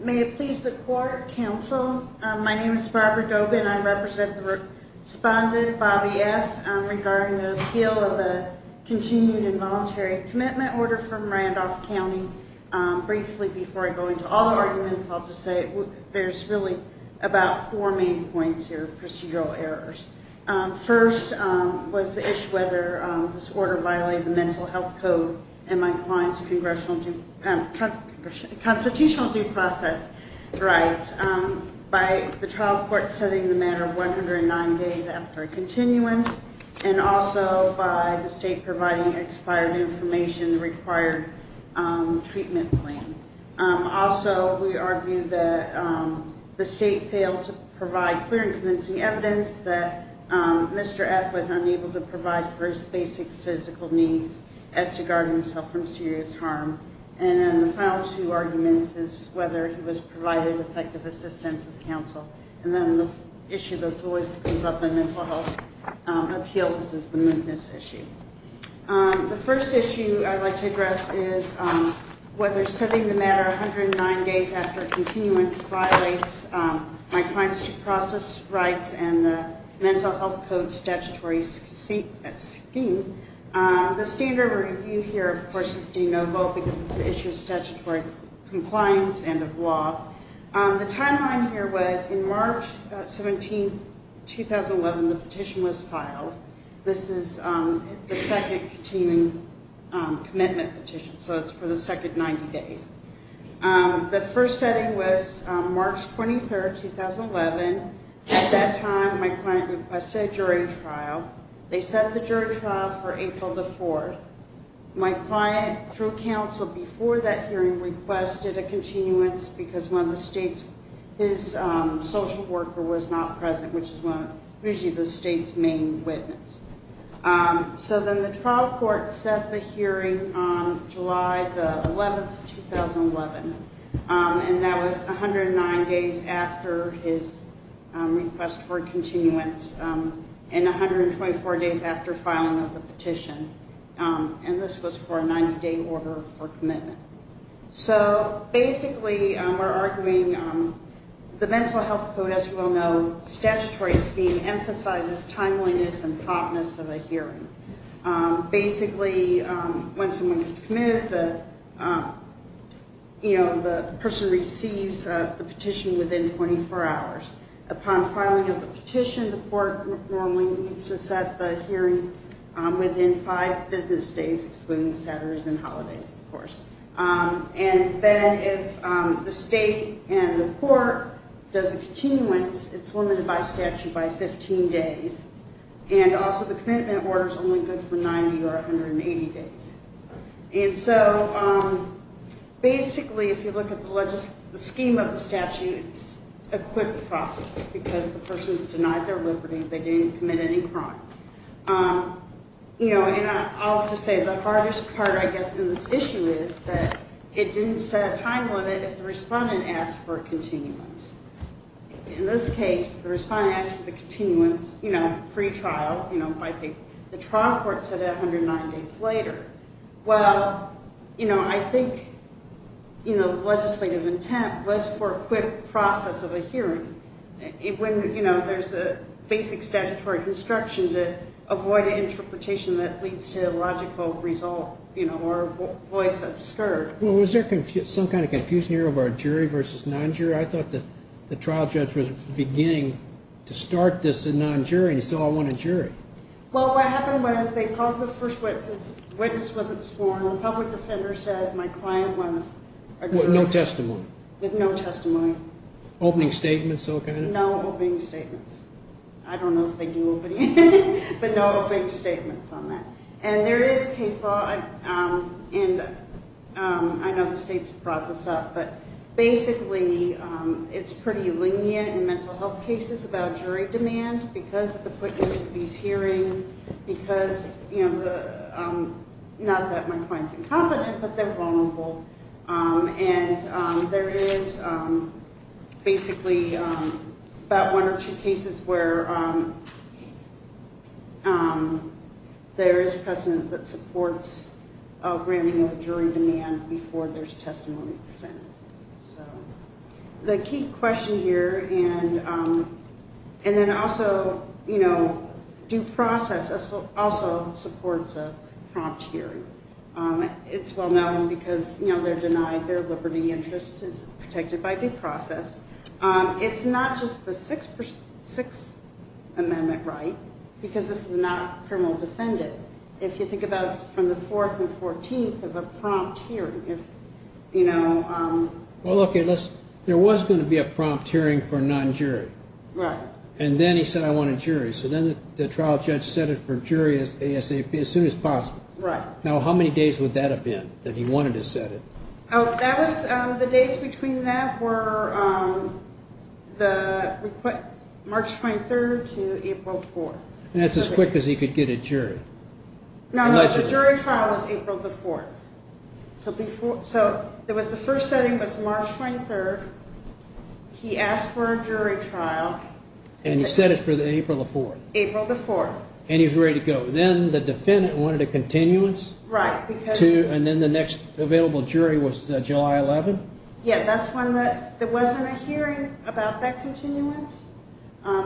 May it please the court counsel. My name is Barbara Dope and I represent the respondent Bobby F regarding the appeal of the continued involuntary commitment order from Randolph County. Briefly before I go into all the arguments I'll just say there's really about four main points here, procedural errors. First was the issue whether this order violated the mental health code and my client's constitutional due process rights. By the trial court setting the matter of 109 days after a continuance and also by the state providing expired information required treatment claim. Also we argue that the state failed to provide clear and convincing evidence that Mr. F was unable to provide for his basic physical needs as to guard himself from serious harm. And then the final two arguments is whether he was provided effective assistance of counsel. And then the issue that always comes up in mental health appeals is the mootness issue. The first issue I'd like to address is whether setting the matter 109 days after a continuance violates my client's due process rights and the mental health code statutory scheme. The standard review here of course is de novo because it's an issue of statutory compliance and of law. The timeline here was in March 17, 2011 the petition was filed. This is the second continuing commitment petition so it's for the second 90 days. The first setting was March 23, 2011. At that time my client requested a jury trial. They set the jury trial for April the 4th. My client through counsel before that hearing requested a continuance because his social worker was not present which is usually the state's main witness. So then the trial court set the hearing on July the 11th, 2011. And that was 109 days after his request for continuance and 124 days after filing of the petition. And this was for a 90 day order for commitment. So basically we're arguing the mental health code as you all know statutory scheme emphasizes timeliness and promptness of a hearing. Basically when someone gets committed the person receives the petition within 24 hours. Upon filing of the petition the court normally needs to set the hearing within 5 business days excluding Saturdays and holidays of course. And then if the state and the court does a continuance it's limited by statute by 15 days. And also the commitment order is only good for 90 or 180 days. And so basically if you look at the scheme of the statute it's a quick process because the person's denied their liberty, they didn't commit any crime. And I'll just say the hardest part I guess in this issue is that it didn't set a time limit if the respondent asked for a continuance. In this case the respondent asked for the continuance pre-trial. The trial court said 109 days later. Well I think legislative intent was for a quick process of a hearing when there's the basic statutory construction to avoid an interpretation that leads to a logical result or avoids obscured. Well was there some kind of confusion here over jury versus non-jury? I thought the trial judge was beginning to start this in non-jury and he said I want a jury. Well what happened was they called the first witness, the witness wasn't sworn, the public defender says my client wants a jury. With no testimony? With no testimony. Opening statements? No opening statements. I don't know if they do opening statements but no opening statements on that. And there is case law and I know the state's brought this up but basically it's pretty lenient in mental health cases about jury demand because of the quickness of these hearings because not that my client's incompetent but they're vulnerable. And there is basically about one or two cases where there is precedent that supports a branding of a jury demand before there's testimony presented. The key question here and then also due process also supports a prompt hearing. It's well known because they're denied their liberty interest, it's protected by due process. It's not just the Sixth Amendment right because this is not a criminal defendant. If you think about from the 4th and 14th of a prompt hearing. Well okay, there was going to be a prompt hearing for non-jury. Right. And then he said I want a jury so then the trial judge set it for jury ASAP as soon as possible. Right. Now how many days would that have been that he wanted to set it? The dates between that were March 23rd to April 4th. And that's as quick as he could get a jury. No, no, the jury trial was April the 4th. So the first setting was March 23rd. He asked for a jury trial. And he set it for April the 4th. April the 4th. And he was ready to go. Then the defendant wanted a continuance. Right. And then the next available jury was July 11th? Yeah, that's when there wasn't a hearing about that continuance.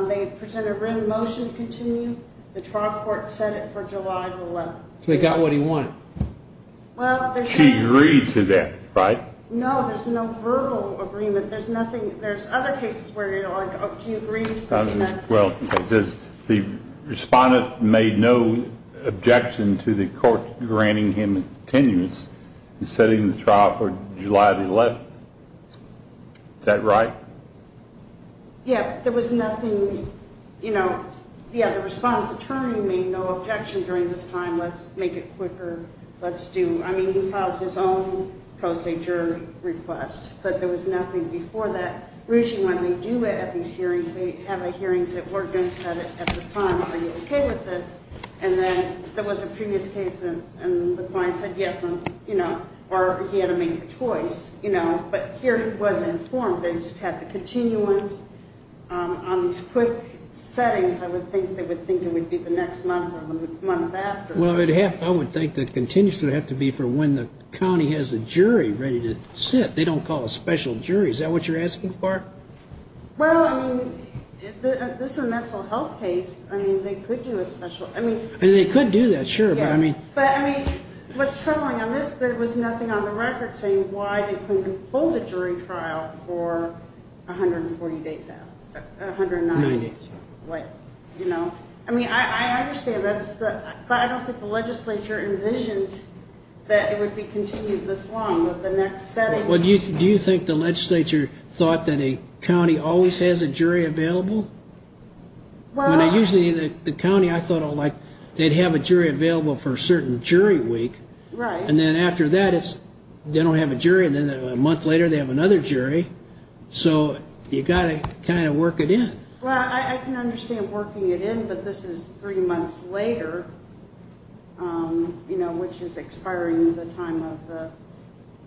They presented a written motion to continue. The trial court set it for July 11th. So he got what he wanted. She agreed to that, right? No, there's no verbal agreement. There's other cases where you're like, oh, do you agree to this sentence? Well, it says the respondent made no objection to the court granting him continuance and setting the trial for July 11th. Is that right? Yeah, there was nothing, you know, yeah, the respondent's attorney made no objection during this time. Let's make it quicker. Let's do, I mean, he filed his own pro se jury request. But there was nothing before that. Ruchi, when they do have these hearings, they have the hearings that we're going to set at this time. Are you okay with this? And then there was a previous case and the client said yes, you know, or he had to make a choice, you know, but here he wasn't informed. They just had the continuance on these quick settings. I would think they would think it would be the next month or the month after. Well, I would think the continuance would have to be for when the county has a jury ready to sit. They don't call a special jury. Is that what you're asking for? Well, I mean, this is a mental health case. I mean, they could do a special. I mean, they could do that. Sure. But I mean. But I mean, what's troubling on this, there was nothing on the record saying why they couldn't hold a jury trial for 140 days out. You know, I mean, I understand that. But I don't think the legislature envisioned that it would be continued this long with the next setting. Well, do you think the legislature thought that a county always has a jury available? Well, usually the county, I thought, oh, like they'd have a jury available for a certain jury week. Right. And then after that, it's they don't have a jury. And then a month later they have another jury. So you've got to kind of work it in. Well, I can understand working it in. But this is three months later. You know, which is expiring the time of the,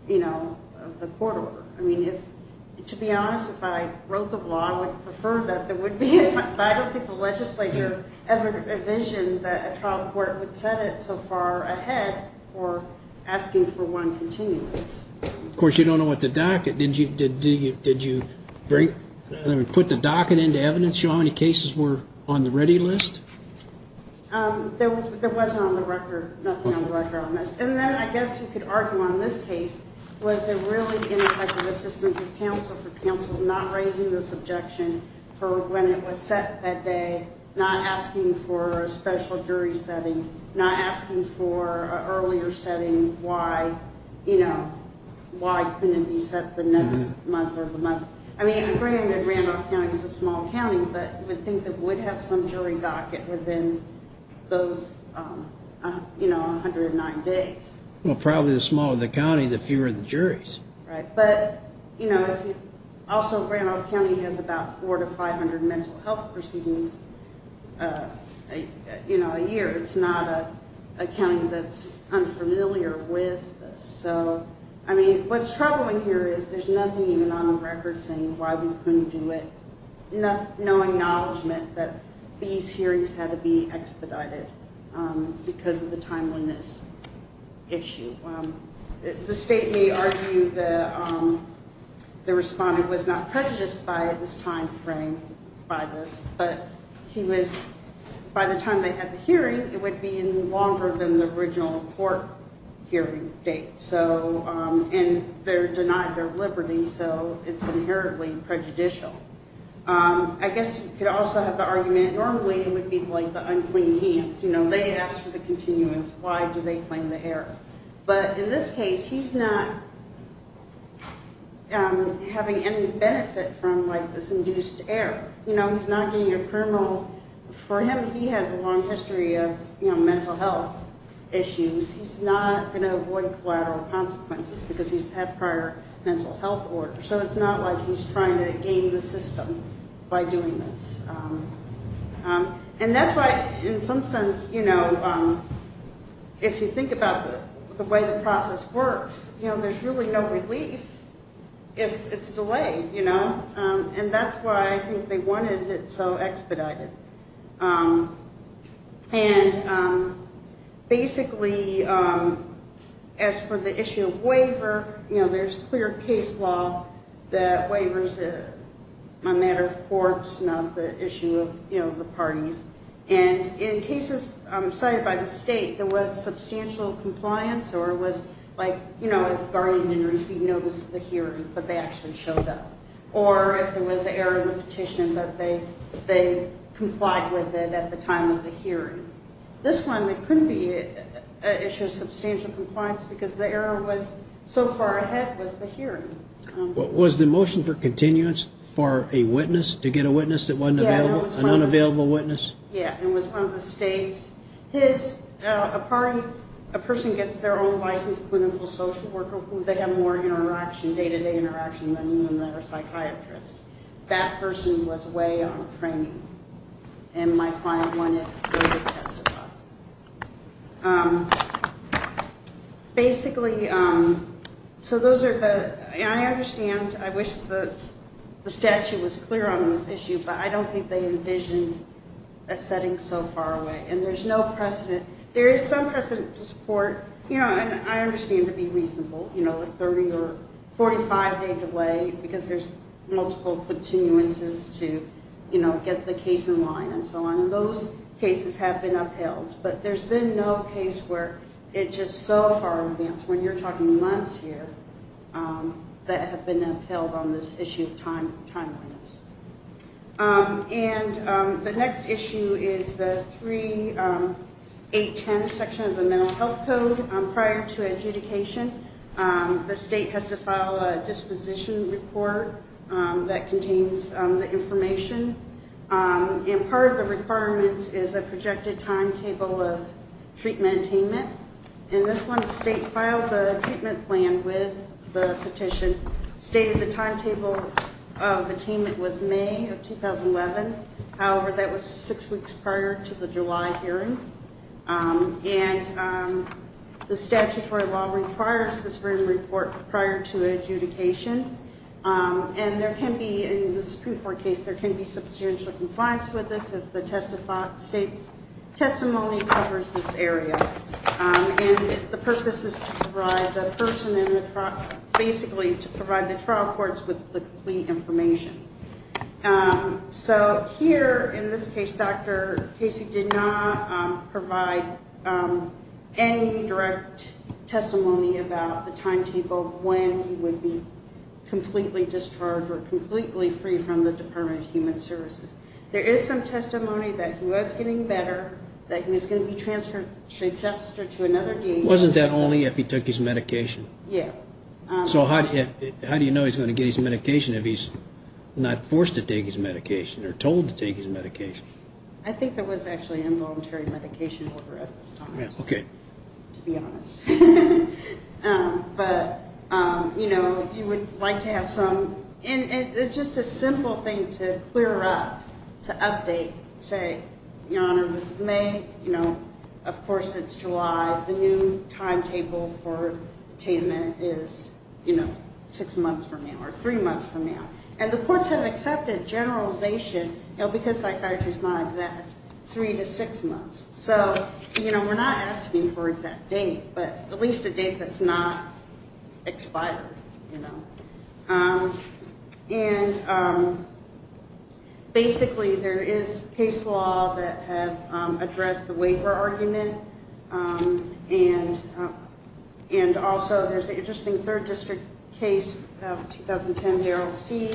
you know, of the court order. I mean, if to be honest, if I wrote the law, I would prefer that there would be. But I don't think the legislature ever envisioned that a trial court would set it so far ahead or asking for one continuous. Of course, you don't know what the docket. Did you did you did you bring them and put the docket into evidence? How many cases were on the ready list? There wasn't on the record, nothing on the record on this. And then I guess you could argue on this case. Was there really an assistant counsel for counsel not raising this objection for when it was set that day? Not asking for a special jury setting, not asking for an earlier setting. Why, you know, why couldn't you set the next month or the month? I mean, I mean, Randolph County is a small county, but I think that would have some jury docket within those, you know, 109 days. Well, probably the smaller the county, the fewer the juries. Right. But, you know, also, Randolph County has about four to 500 mental health proceedings, you know, a year. It's not a county that's unfamiliar with. So, I mean, what's troubling here is there's nothing even on the record saying why we couldn't do it. No acknowledgement that these hearings had to be expedited because of the timeliness issue. The state may argue that the respondent was not prejudiced by this time frame, by this. But he was, by the time they had the hearing, it would be longer than the original court hearing date. So and they're denied their liberty. So it's inherently prejudicial. I guess you could also have the argument normally with people like the unclean hands. You know, they ask for the continuance. Why do they claim the error? But in this case, he's not having any benefit from like this induced error. You know, he's not being a criminal for him. He has a long history of mental health issues. He's not going to avoid collateral consequences because he's had prior mental health order. So it's not like he's trying to game the system by doing this. And that's why in some sense, you know, if you think about the way the process works, you know, there's really no relief if it's delayed, you know. And that's why I think they wanted it so expedited. And basically, as for the issue of waiver, you know, there's clear case law that waivers are a matter of courts, not the issue of, you know, the parties. And in cases cited by the state, there was substantial compliance or it was like, you know, if the guardian didn't receive notice of the hearing, but they actually showed up. Or if there was an error in the petition, but they complied with it at the time of the hearing. This one, it couldn't be an issue of substantial compliance because the error was so far ahead was the hearing. Was the motion for continuance for a witness, to get a witness that wasn't available, an unavailable witness? Yeah, it was one of the states. His, a person gets their own licensed clinical social worker who they have more interaction, day-to-day interaction than even their psychiatrist. That person was way on the training. And my client wanted to testify. Basically, so those are the, I understand, I wish the statute was clear on this issue, but I don't think they envisioned a setting so far away. And there's no precedent. There is some precedent to support, you know, and I understand to be reasonable, you know, a 30 or 45-day delay, because there's multiple continuances to, you know, get the case in line and so on. And those cases have been upheld. But there's been no case where it's just so far advanced, when you're talking months here, that have been upheld on this issue of timeliness. And the next issue is the 3810 section of the Mental Health Code. Prior to adjudication, the state has to file a disposition report that contains the information. And part of the requirements is a projected timetable of treatment attainment. In this one, the state filed the treatment plan with the petition. It stated the timetable of attainment was May of 2011. However, that was six weeks prior to the July hearing. And the statutory law requires this written report prior to adjudication. And there can be, in this pre-court case, there can be substantial compliance with this, if the state's testimony covers this area. And the purpose is to provide the person in the trial, basically, to provide the trial courts with the complete information. So here, in this case, Dr. Casey did not provide any direct testimony about the timetable, when he would be completely discharged or completely free from the Department of Human Services. There is some testimony that he was getting better, that he was going to be transferred to another DA. Wasn't that only if he took his medication? Yeah. So how do you know he's going to get his medication if he's not forced to take his medication or told to take his medication? I think there was actually involuntary medication over at this time. Okay. To be honest. But, you know, you would like to have some. And it's just a simple thing to clear up, to update. You know, say, Your Honor, this is May. You know, of course, it's July. The new timetable for attainment is, you know, six months from now or three months from now. And the courts have accepted generalization, you know, because psychiatry is not exact, three to six months. So, you know, we're not asking for an exact date, but at least a date that's not expired, you know. And basically there is case law that have addressed the waiver argument. And also there's an interesting third district case of 2010 Darrell C.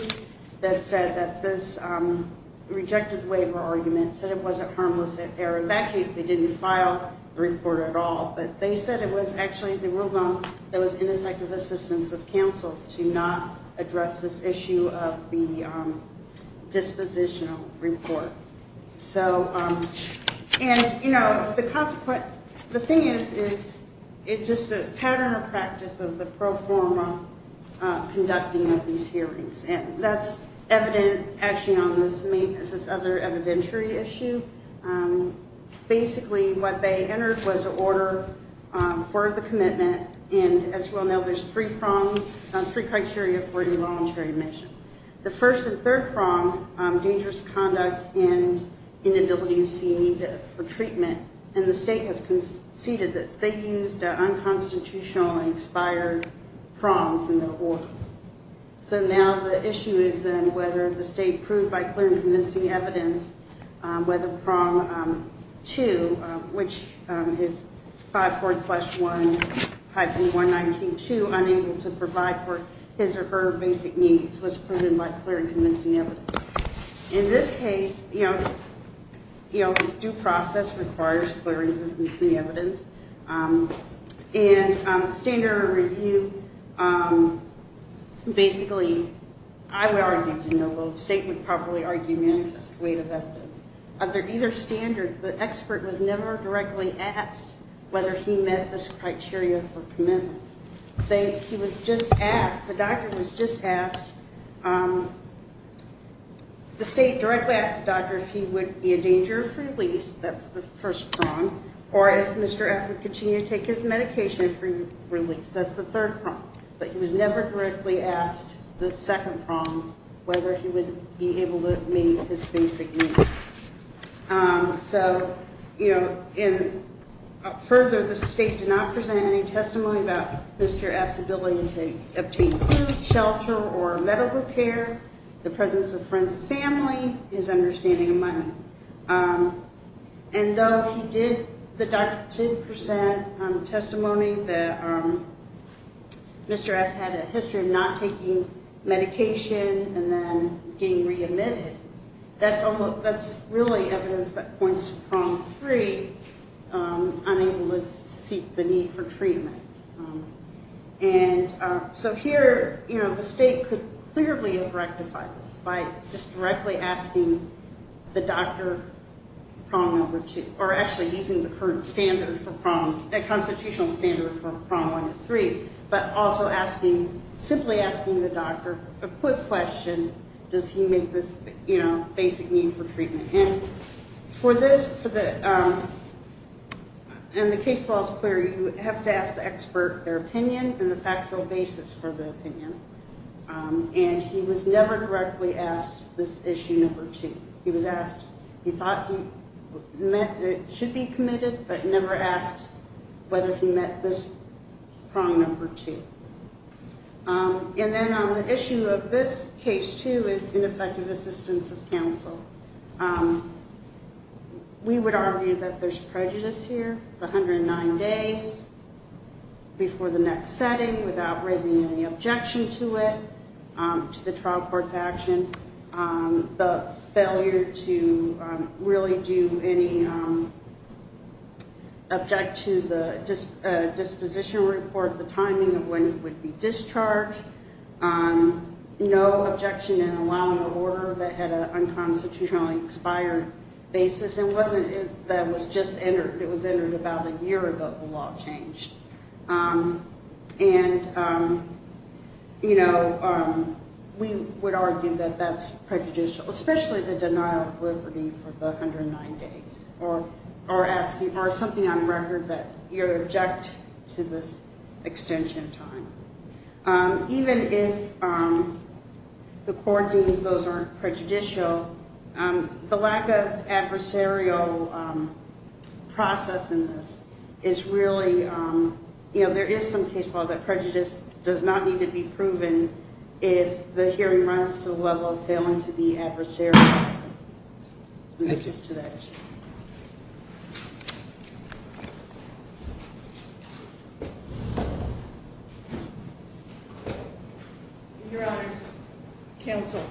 that said that this rejected waiver argument said it wasn't harmless at error. In that case, they didn't file the report at all. But they said it was actually the rule of law that was ineffective assistance of counsel to not address this issue of the dispositional report. So, and, you know, the consequence, the thing is, is it's just a pattern of practice of the pro forma conducting of these hearings. And that's evident actually on this other evidentiary issue. Basically what they entered was an order for the commitment. And as you all know, there's three prongs, three criteria for involuntary admission. The first and third prong, dangerous conduct and inability to see a need for treatment. And the state has conceded that they used unconstitutional and expired prongs in their order. So now the issue is then whether the state proved by clear and convincing evidence whether prong two, which is 5.1-192 unable to provide for his or her basic needs was proven by clear and convincing evidence. In this case, you know, due process requires clear and convincing evidence. And standard review, basically, I would argue, you know, the state would probably argue manifest weight of evidence. Under either standard, the expert was never directly asked whether he met this criteria for commitment. He was just asked, the doctor was just asked, the state directly asked the doctor if he would be a danger of release, that's the first prong, or if Mr. F would continue to take his medication for release, that's the third prong. But he was never directly asked the second prong, whether he would be able to meet his basic needs. So, you know, and further, the state did not present any testimony about Mr. F's ability to obtain food, shelter, or medical care, the presence of friends and family, his understanding of money. And though he did, the doctor did present testimony that Mr. F had a history of not taking medication and then being re-admitted, that's really evidence that points to prong three, unable to seek the need for treatment. And so here, you know, the state could clearly have rectified this by just directly asking the doctor prong number two, or actually using the current standard for prong, the constitutional standard for prong number three, but also asking, simply asking the doctor a quick question, does he meet this, you know, basic need for treatment. And for this, for the, in the case laws query, you have to ask the expert their opinion and the factual basis for the opinion. And he was never directly asked this issue number two. He was asked, he thought he met, should be committed, but never asked whether he met this prong number two. And then on the issue of this case too is ineffective assistance of counsel. We would argue that there's prejudice here, the 109 days before the next setting without raising any objection to it, to the trial court's action, the failure to really do any, object to the disposition report, the timing of when it would be discharged, no objection in allowing an order that had an unconstitutionally expired basis, and wasn't, that was just entered, it was entered about a year ago, the law changed. And, you know, we would argue that that's prejudicial, especially the denial of liberty for the 109 days, or asking, or something on record that you object to this extension of time. Even if the court deems those aren't prejudicial, the lack of adversarial process in this is really, you know, there is some case law that prejudice does not need to be proven if the hearing runs to the level of failing to be adversarial. And this is to that issue. Your honors, counsel,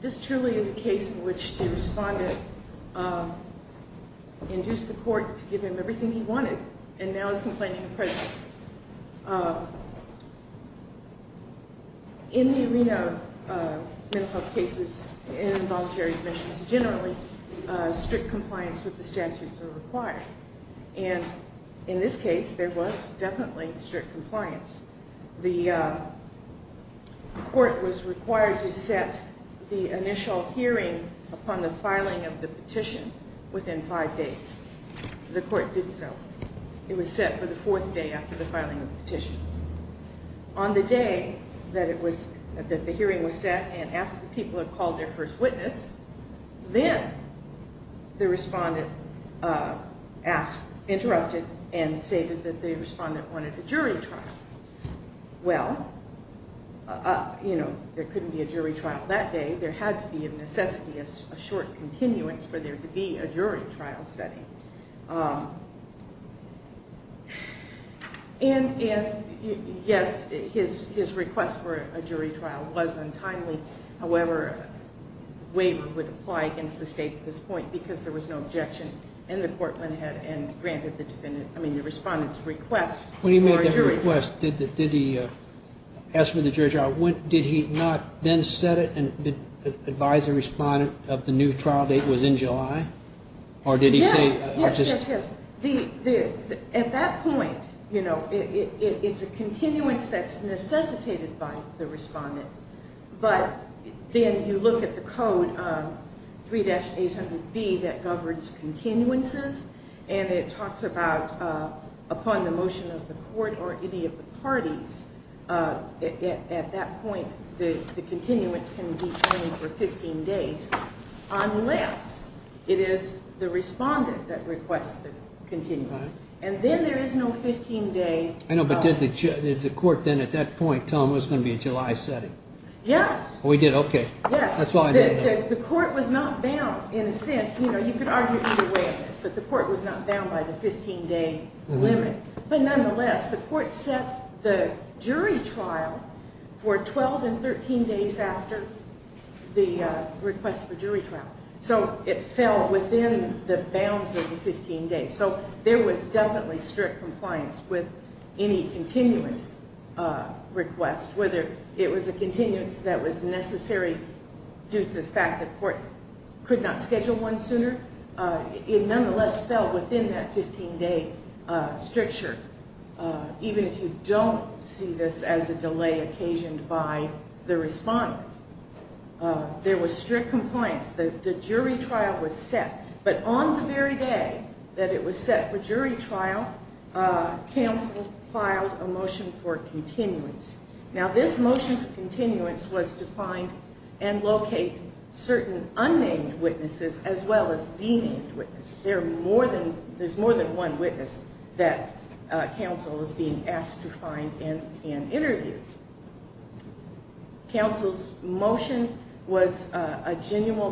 this truly is a case in which the respondent induced the court to give him everything he wanted, and now is complaining of prejudice. In the arena of mental health cases, in voluntary admissions generally, strict compliance with the statutes are required. And in this case, there was definitely strict compliance. The court was required to set the initial hearing upon the filing of the petition within five days. The court did so. It was set for the fourth day after the filing of the petition. On the day that it was, that the hearing was set, and after the people had called their first witness, then the respondent asked, interrupted, and stated that the respondent wanted a jury trial. Well, you know, there couldn't be a jury trial that day. There had to be a necessity, a short continuance for there to be a jury trial setting. And, yes, his request for a jury trial was untimely. However, the waiver would apply against the state at this point because there was no objection, and the court went ahead and granted the defendant, I mean, the respondent's request for a jury trial. When he made that request, did he ask for the jury trial? Did he not then set it and advise the respondent of the new trial date was in July? Yes. Or did he say? Yes, yes, yes. At that point, you know, it's a continuance that's necessitated by the respondent. But then you look at the code, 3-800-B, that governs continuances, and it talks about upon the motion of the court or any of the parties, at that point the continuance can be pending for 15 days unless it is the respondent that requests the continuance. And then there is no 15-day. I know, but did the court then at that point tell him it was going to be a July setting? Yes. Oh, he did? Okay. Yes. That's all I need to know. The court was not bound in a sense, you know, you could argue either way at this, that the court was not bound by the 15-day limit. But nonetheless, the court set the jury trial for 12 and 13 days after the request for jury trial. So it fell within the bounds of the 15 days. So there was definitely strict compliance with any continuance request, whether it was a continuance that was necessary due to the fact that the court could not schedule one sooner. It nonetheless fell within that 15-day stricture, even if you don't see this as a delay occasioned by the respondent. There was strict compliance. The jury trial was set. But on the very day that it was set for jury trial, counsel filed a motion for continuance. Now, this motion for continuance was to find and locate certain unnamed witnesses as well as the named witness. There's more than one witness that counsel is being asked to find and interview. Counsel's motion was a general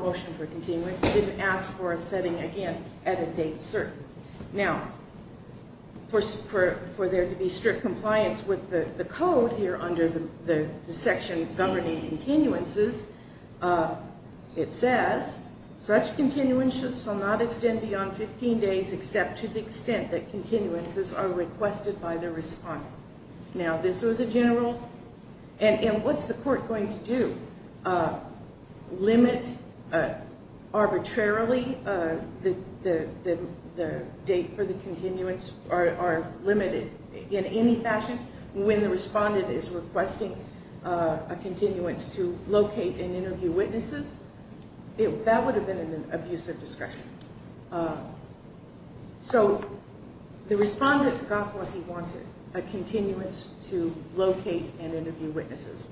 motion for continuance. It didn't ask for a setting again at a date certain. Now, for there to be strict compliance with the code here under the section governing continuances, it says, such continuances shall not extend beyond 15 days except to the extent that continuances are requested by the respondent. Now, this was a general. And what's the court going to do? Limit arbitrarily the date for the continuance or limit it in any fashion when the respondent is requesting a continuance to locate and interview witnesses? That would have been an abusive discretion. So the respondent got what he wanted, a continuance to locate and interview witnesses.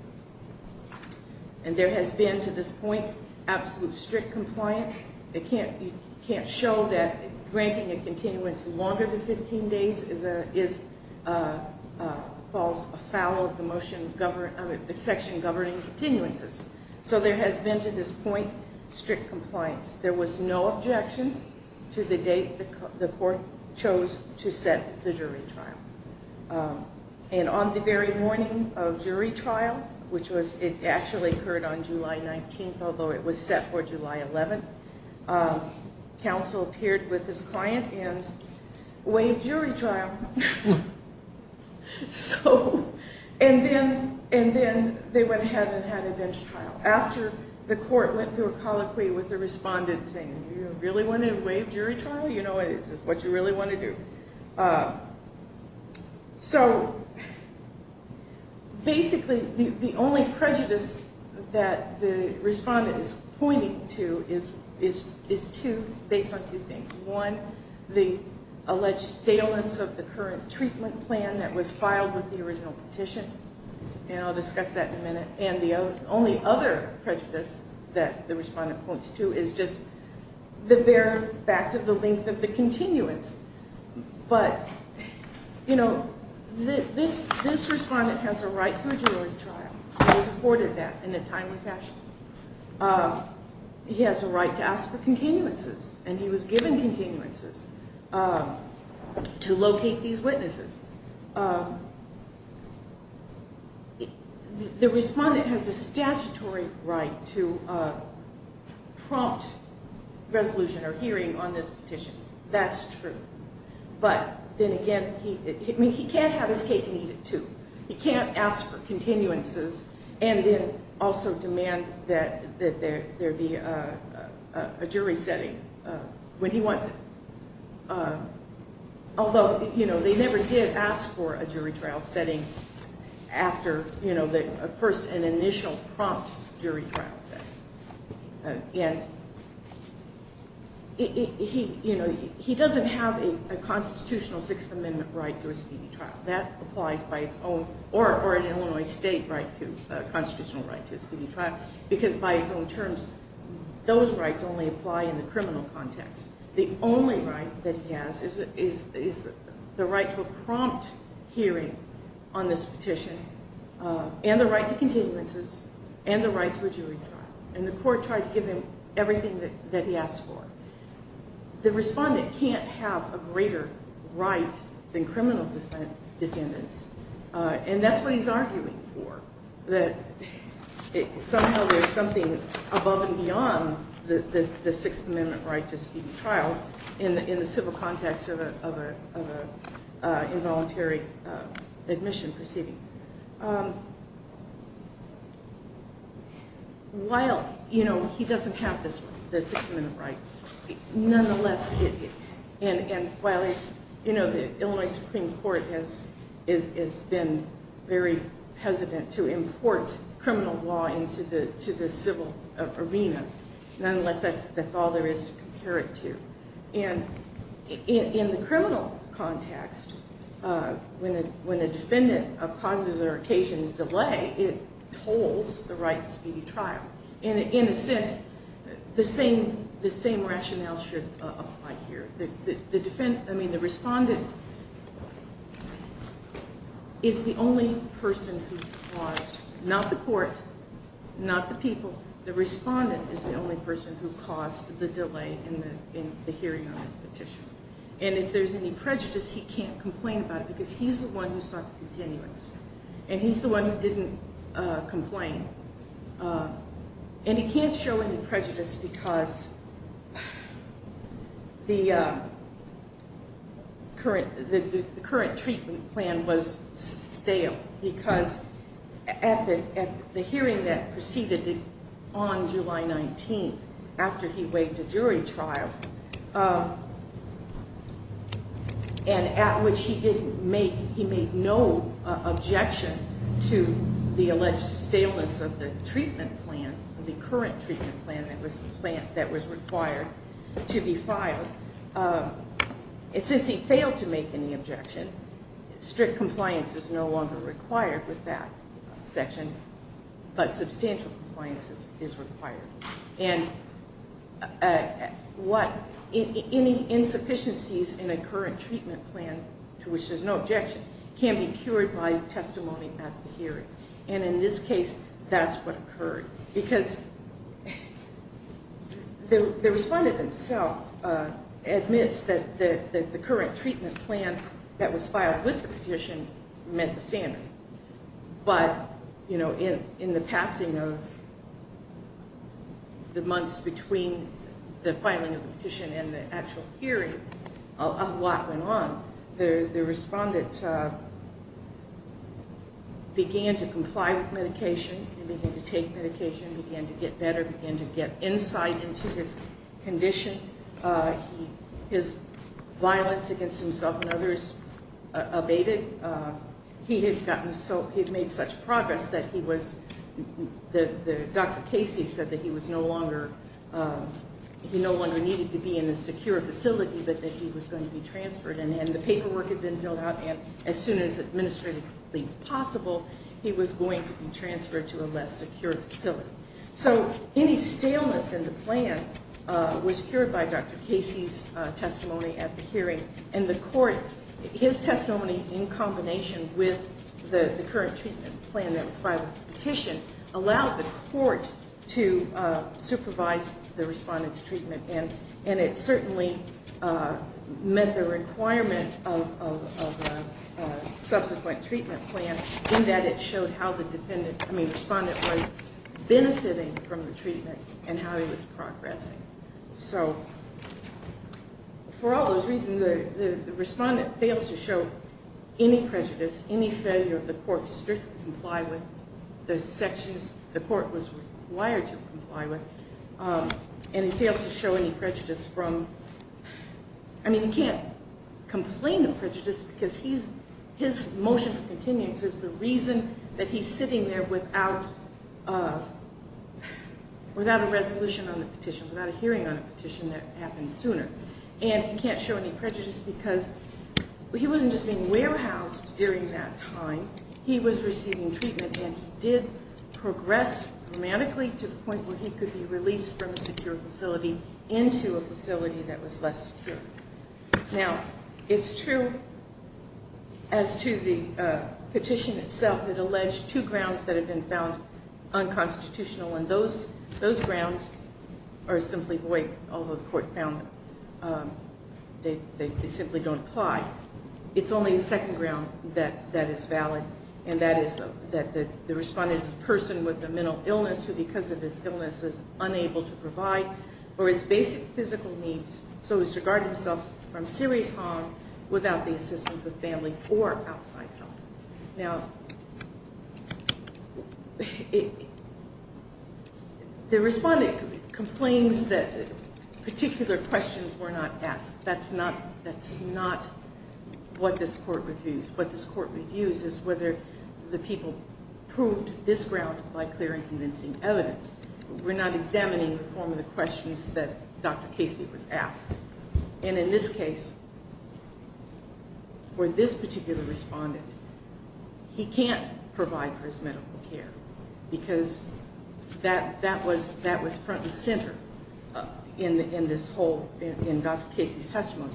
And there has been, to this point, absolute strict compliance. You can't show that granting a continuance longer than 15 days falls afoul of the section governing continuances. So there has been, to this point, strict compliance. There was no objection to the date the court chose to set the jury trial. And on the very morning of jury trial, which actually occurred on July 19th, although it was set for July 11th, counsel appeared with his client and waived jury trial. And then they went ahead and had a bench trial. After the court went through a colloquy with the respondent saying, Do you really want to waive jury trial? Is this what you really want to do? Basically, the only prejudice that the respondent is pointing to is based on two things. One, the alleged staleness of the current treatment plan that was filed with the original petition. And I'll discuss that in a minute. And the only other prejudice that the respondent points to is just the bare fact of the length of the continuance. But, you know, this respondent has a right to a jury trial. He was afforded that in a timely fashion. He has a right to ask for continuances. And he was given continuances to locate these witnesses. The respondent has the statutory right to prompt resolution or hearing on this petition. That's true. But then again, he can't have his cake and eat it too. He can't ask for continuances and then also demand that there be a jury setting when he wants it. Although, you know, they never did ask for a jury trial setting after, you know, the first and initial prompt jury trial setting. And, you know, he doesn't have a constitutional Sixth Amendment right to a speedy trial. That applies by its own or an Illinois state constitutional right to a speedy trial. Because by its own terms, those rights only apply in the criminal context. The only right that he has is the right to a prompt hearing on this petition and the right to continuances and the right to a jury trial. And the court tried to give him everything that he asked for. The respondent can't have a greater right than criminal defendants. And that's what he's arguing for. That somehow there's something above and beyond the Sixth Amendment right to a speedy trial in the civil context of an involuntary admission proceeding. While, you know, he doesn't have the Sixth Amendment right. Nonetheless, and while, you know, the Illinois Supreme Court has been very hesitant to import criminal law into the civil arena. Nonetheless, that's all there is to compare it to. And in the criminal context, when a defendant causes or occasions delay, it tolls the right to speedy trial. And in a sense, the same rationale should apply here. The defendant, I mean, the respondent is the only person who caused, not the court, not the people. The respondent is the only person who caused the delay in the hearing on this petition. And if there's any prejudice, he can't complain about it because he's the one who sought the continuance. And he's the one who didn't complain. And he can't show any prejudice because the current treatment plan was stale. Because at the hearing that proceeded on July 19th, after he waived a jury trial, and at which he made no objection to the alleged staleness of the treatment plan, the current treatment plan that was required to be filed. And since he failed to make any objection, strict compliance is no longer required with that section, but substantial compliance is required. And any insufficiencies in a current treatment plan to which there's no objection can be cured by testimony at the hearing. And in this case, that's what occurred. Because the respondent himself admits that the current treatment plan that was filed with the petition met the standard. But in the passing of the months between the filing of the petition and the actual hearing, a lot went on. The respondent began to comply with medication. He began to take medication. He began to get better. He began to get insight into his condition. His violence against himself and others abated. He had gotten so – he had made such progress that he was – Dr. Casey said that he was no longer – that he was going to be transferred. And the paperwork had been filled out, and as soon as administratively possible, he was going to be transferred to a less secure facility. So any staleness in the plan was cured by Dr. Casey's testimony at the hearing. And the court – his testimony in combination with the current treatment plan that was filed with the petition allowed the court to supervise the respondent's treatment, and it certainly met the requirement of the subsequent treatment plan in that it showed how the defendant – I mean, respondent was benefiting from the treatment and how he was progressing. So for all those reasons, the respondent fails to show any prejudice, any failure of the court to strictly comply with the sections the court was required to comply with, and he fails to show any prejudice from – I mean, he can't complain of prejudice because he's – his motion for continuance is the reason that he's sitting there without a resolution on the petition, without a hearing on a petition that happened sooner. And he can't show any prejudice because he wasn't just being warehoused during that time. He was receiving treatment, and he did progress dramatically to the point where he could be released from a secure facility into a facility that was less secure. Now, it's true as to the petition itself that alleged two grounds that had been found unconstitutional, and those grounds are simply void, although the court found they simply don't apply. It's only the second ground that is valid, and that is that the respondent is a person with a mental illness who, because of his illness, is unable to provide for his basic physical needs, so he's regarded himself from serious harm without the assistance of family or outside help. Now, the respondent complains that particular questions were not asked. That's not what this court reviews. What this court reviews is whether the people proved this ground by clear and convincing evidence. We're not examining the form of the questions that Dr. Casey was asked. And in this case, for this particular respondent, he can't provide for his medical care because that was front and center in this whole, in Dr. Casey's testimony.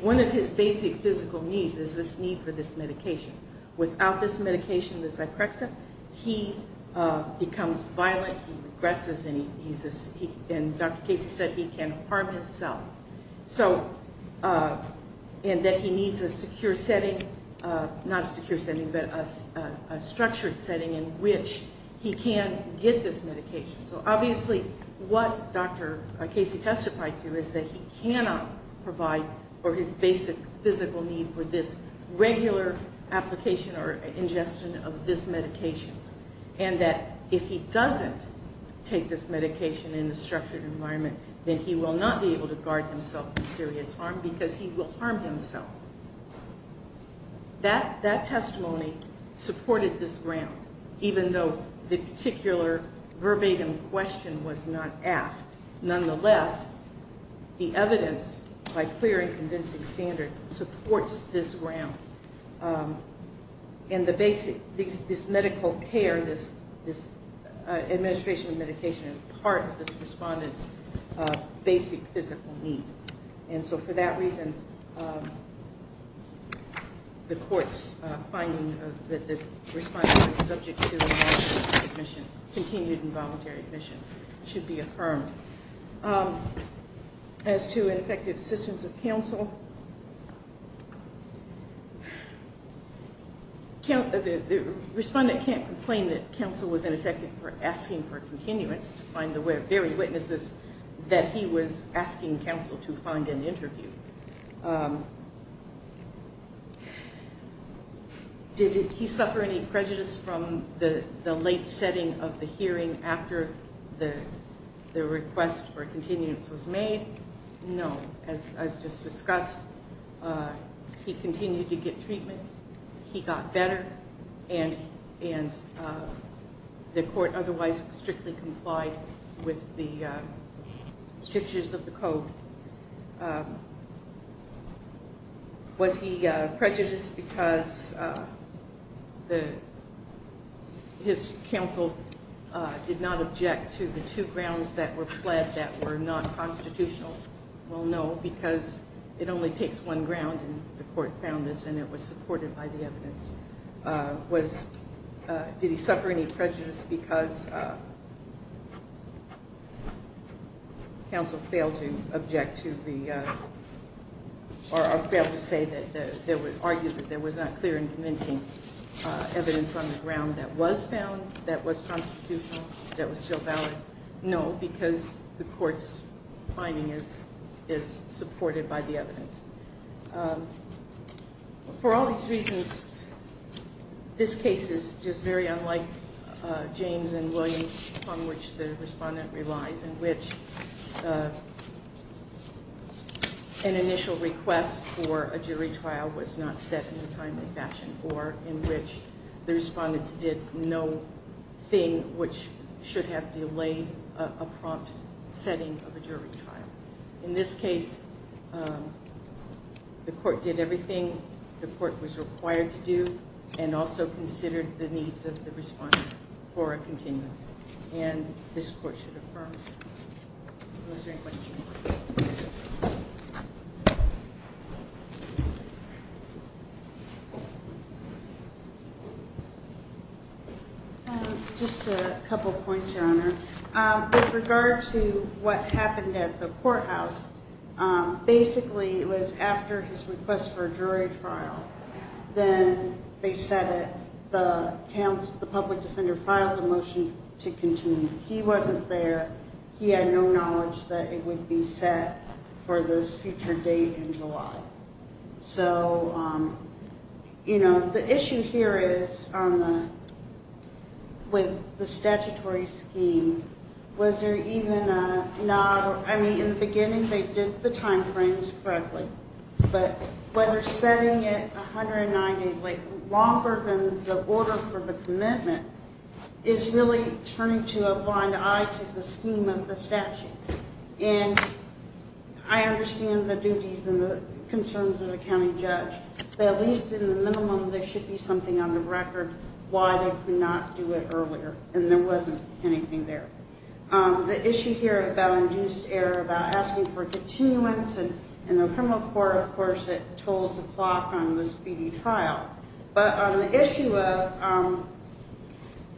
One of his basic physical needs is this need for this medication. Without this medication, the Zyprexa, he becomes violent. He regresses, and Dr. Casey said he can harm himself, and that he needs a secure setting, not a secure setting, but a structured setting in which he can get this medication. So obviously what Dr. Casey testified to is that he cannot provide for his basic physical need for this regular application or ingestion of this medication, and that if he doesn't take this medication in a structured environment, then he will not be able to guard himself from serious harm because he will harm himself. That testimony supported this ground, even though the particular verbatim question was not asked. Nonetheless, the evidence, by clear and convincing standard, supports this ground. And the basic, this medical care, this administration of medication, is part of this respondent's basic physical need. And so for that reason, the court's finding that the respondent is subject to admission, continued involuntary admission, should be affirmed. As to ineffective assistance of counsel, the respondent can't complain that counsel was ineffective for asking for continuance to find the very witnesses that he was asking counsel to find and interview. Did he suffer any prejudice from the late setting of the hearing after the request for continuance was made? No. As just discussed, he continued to get treatment, he got better, and the court otherwise strictly complied with the strictures of the code. Was he prejudiced because his counsel did not object to the two grounds that were pled that were not constitutional? Well, no, because it only takes one ground, and the court found this, and it was supported by the evidence. Did he suffer any prejudice because counsel failed to object to the, or failed to argue that there was not clear and convincing evidence on the ground that was found, that was constitutional, that was still valid? No, because the court's finding is supported by the evidence. For all these reasons, this case is just very unlike James and Williams, on which the respondent relies, in which an initial request for a jury trial was not set in a timely fashion, or in which the respondents did no thing which should have delayed a prompt setting of a jury trial. In this case, the court did everything the court was required to do and also considered the needs of the respondent for a continuance, and this court should affirm. With regard to what happened at the courthouse, basically it was after his request for a jury trial, then they set it. The public defender filed a motion to continue. He wasn't there. He had no knowledge that it would be set for this future date in July. So, you know, the issue here is with the statutory scheme, was there even a nod? I mean, in the beginning they did the time frames correctly, but whether setting it 190 days later, longer than the order for the commitment, is really turning to a blind eye to the scheme of the statute. And I understand the duties and the concerns of the county judge, but at least in the minimum there should be something on the record why they could not do it earlier, and there wasn't anything there. The issue here about induced error, about asking for continuance, in the criminal court, of course, it tolls the clock on the speedy trial. But on the issue of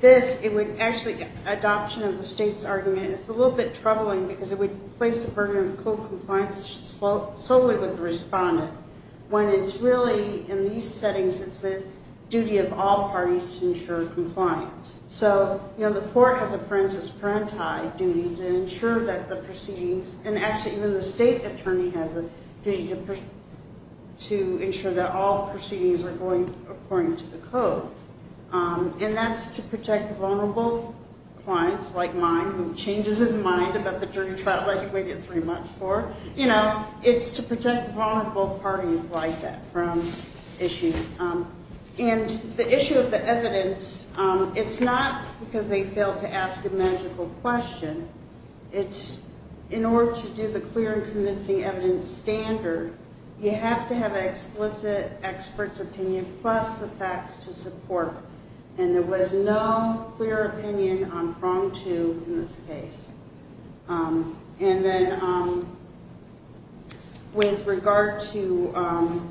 this, it would actually get adoption of the state's argument. It's a little bit troubling, because it would place the burden of code compliance solely with the respondent, when it's really, in these settings, it's the duty of all parties to ensure compliance. So, you know, the court has a parensis parentae duty to ensure that the proceedings, and actually even the state attorney has a duty to ensure that all proceedings are going according to the code. And that's to protect vulnerable clients like mine who changes his mind about the jury trial like we get three months for. You know, it's to protect vulnerable parties like that from issues. And the issue of the evidence, it's not because they failed to ask a magical question. It's in order to do the clear and convincing evidence standard, you have to have an explicit expert's opinion plus the facts to support. And there was no clear opinion on prong two in this case. And then with regard to,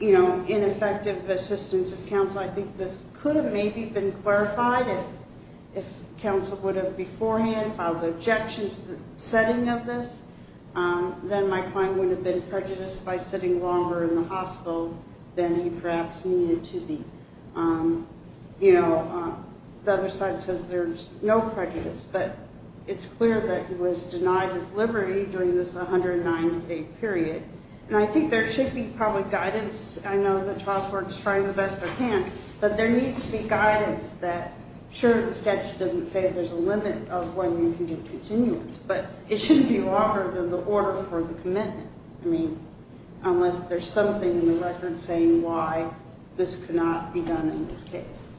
you know, ineffective assistance of counsel, I think this could have maybe been clarified if counsel would have beforehand filed an objection to the setting of this. Then my client wouldn't have been prejudiced by sitting longer in the hospital than he perhaps needed to be. You know, the other side says there's no prejudice, but it's clear that he was denied his liberty during this 109-day period. And I think there should be probably guidance. I know that Child Support is trying the best they can, but there needs to be guidance that, sure, the statute doesn't say there's a limit of when you can get continuance, but it shouldn't be longer than the order for the commitment. I mean, unless there's something in the record saying why this cannot be done in this case.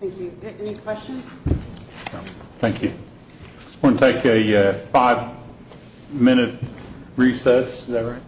Thank you. Any questions? No. Thank you. I'm going to take a five-minute recess. Is that right?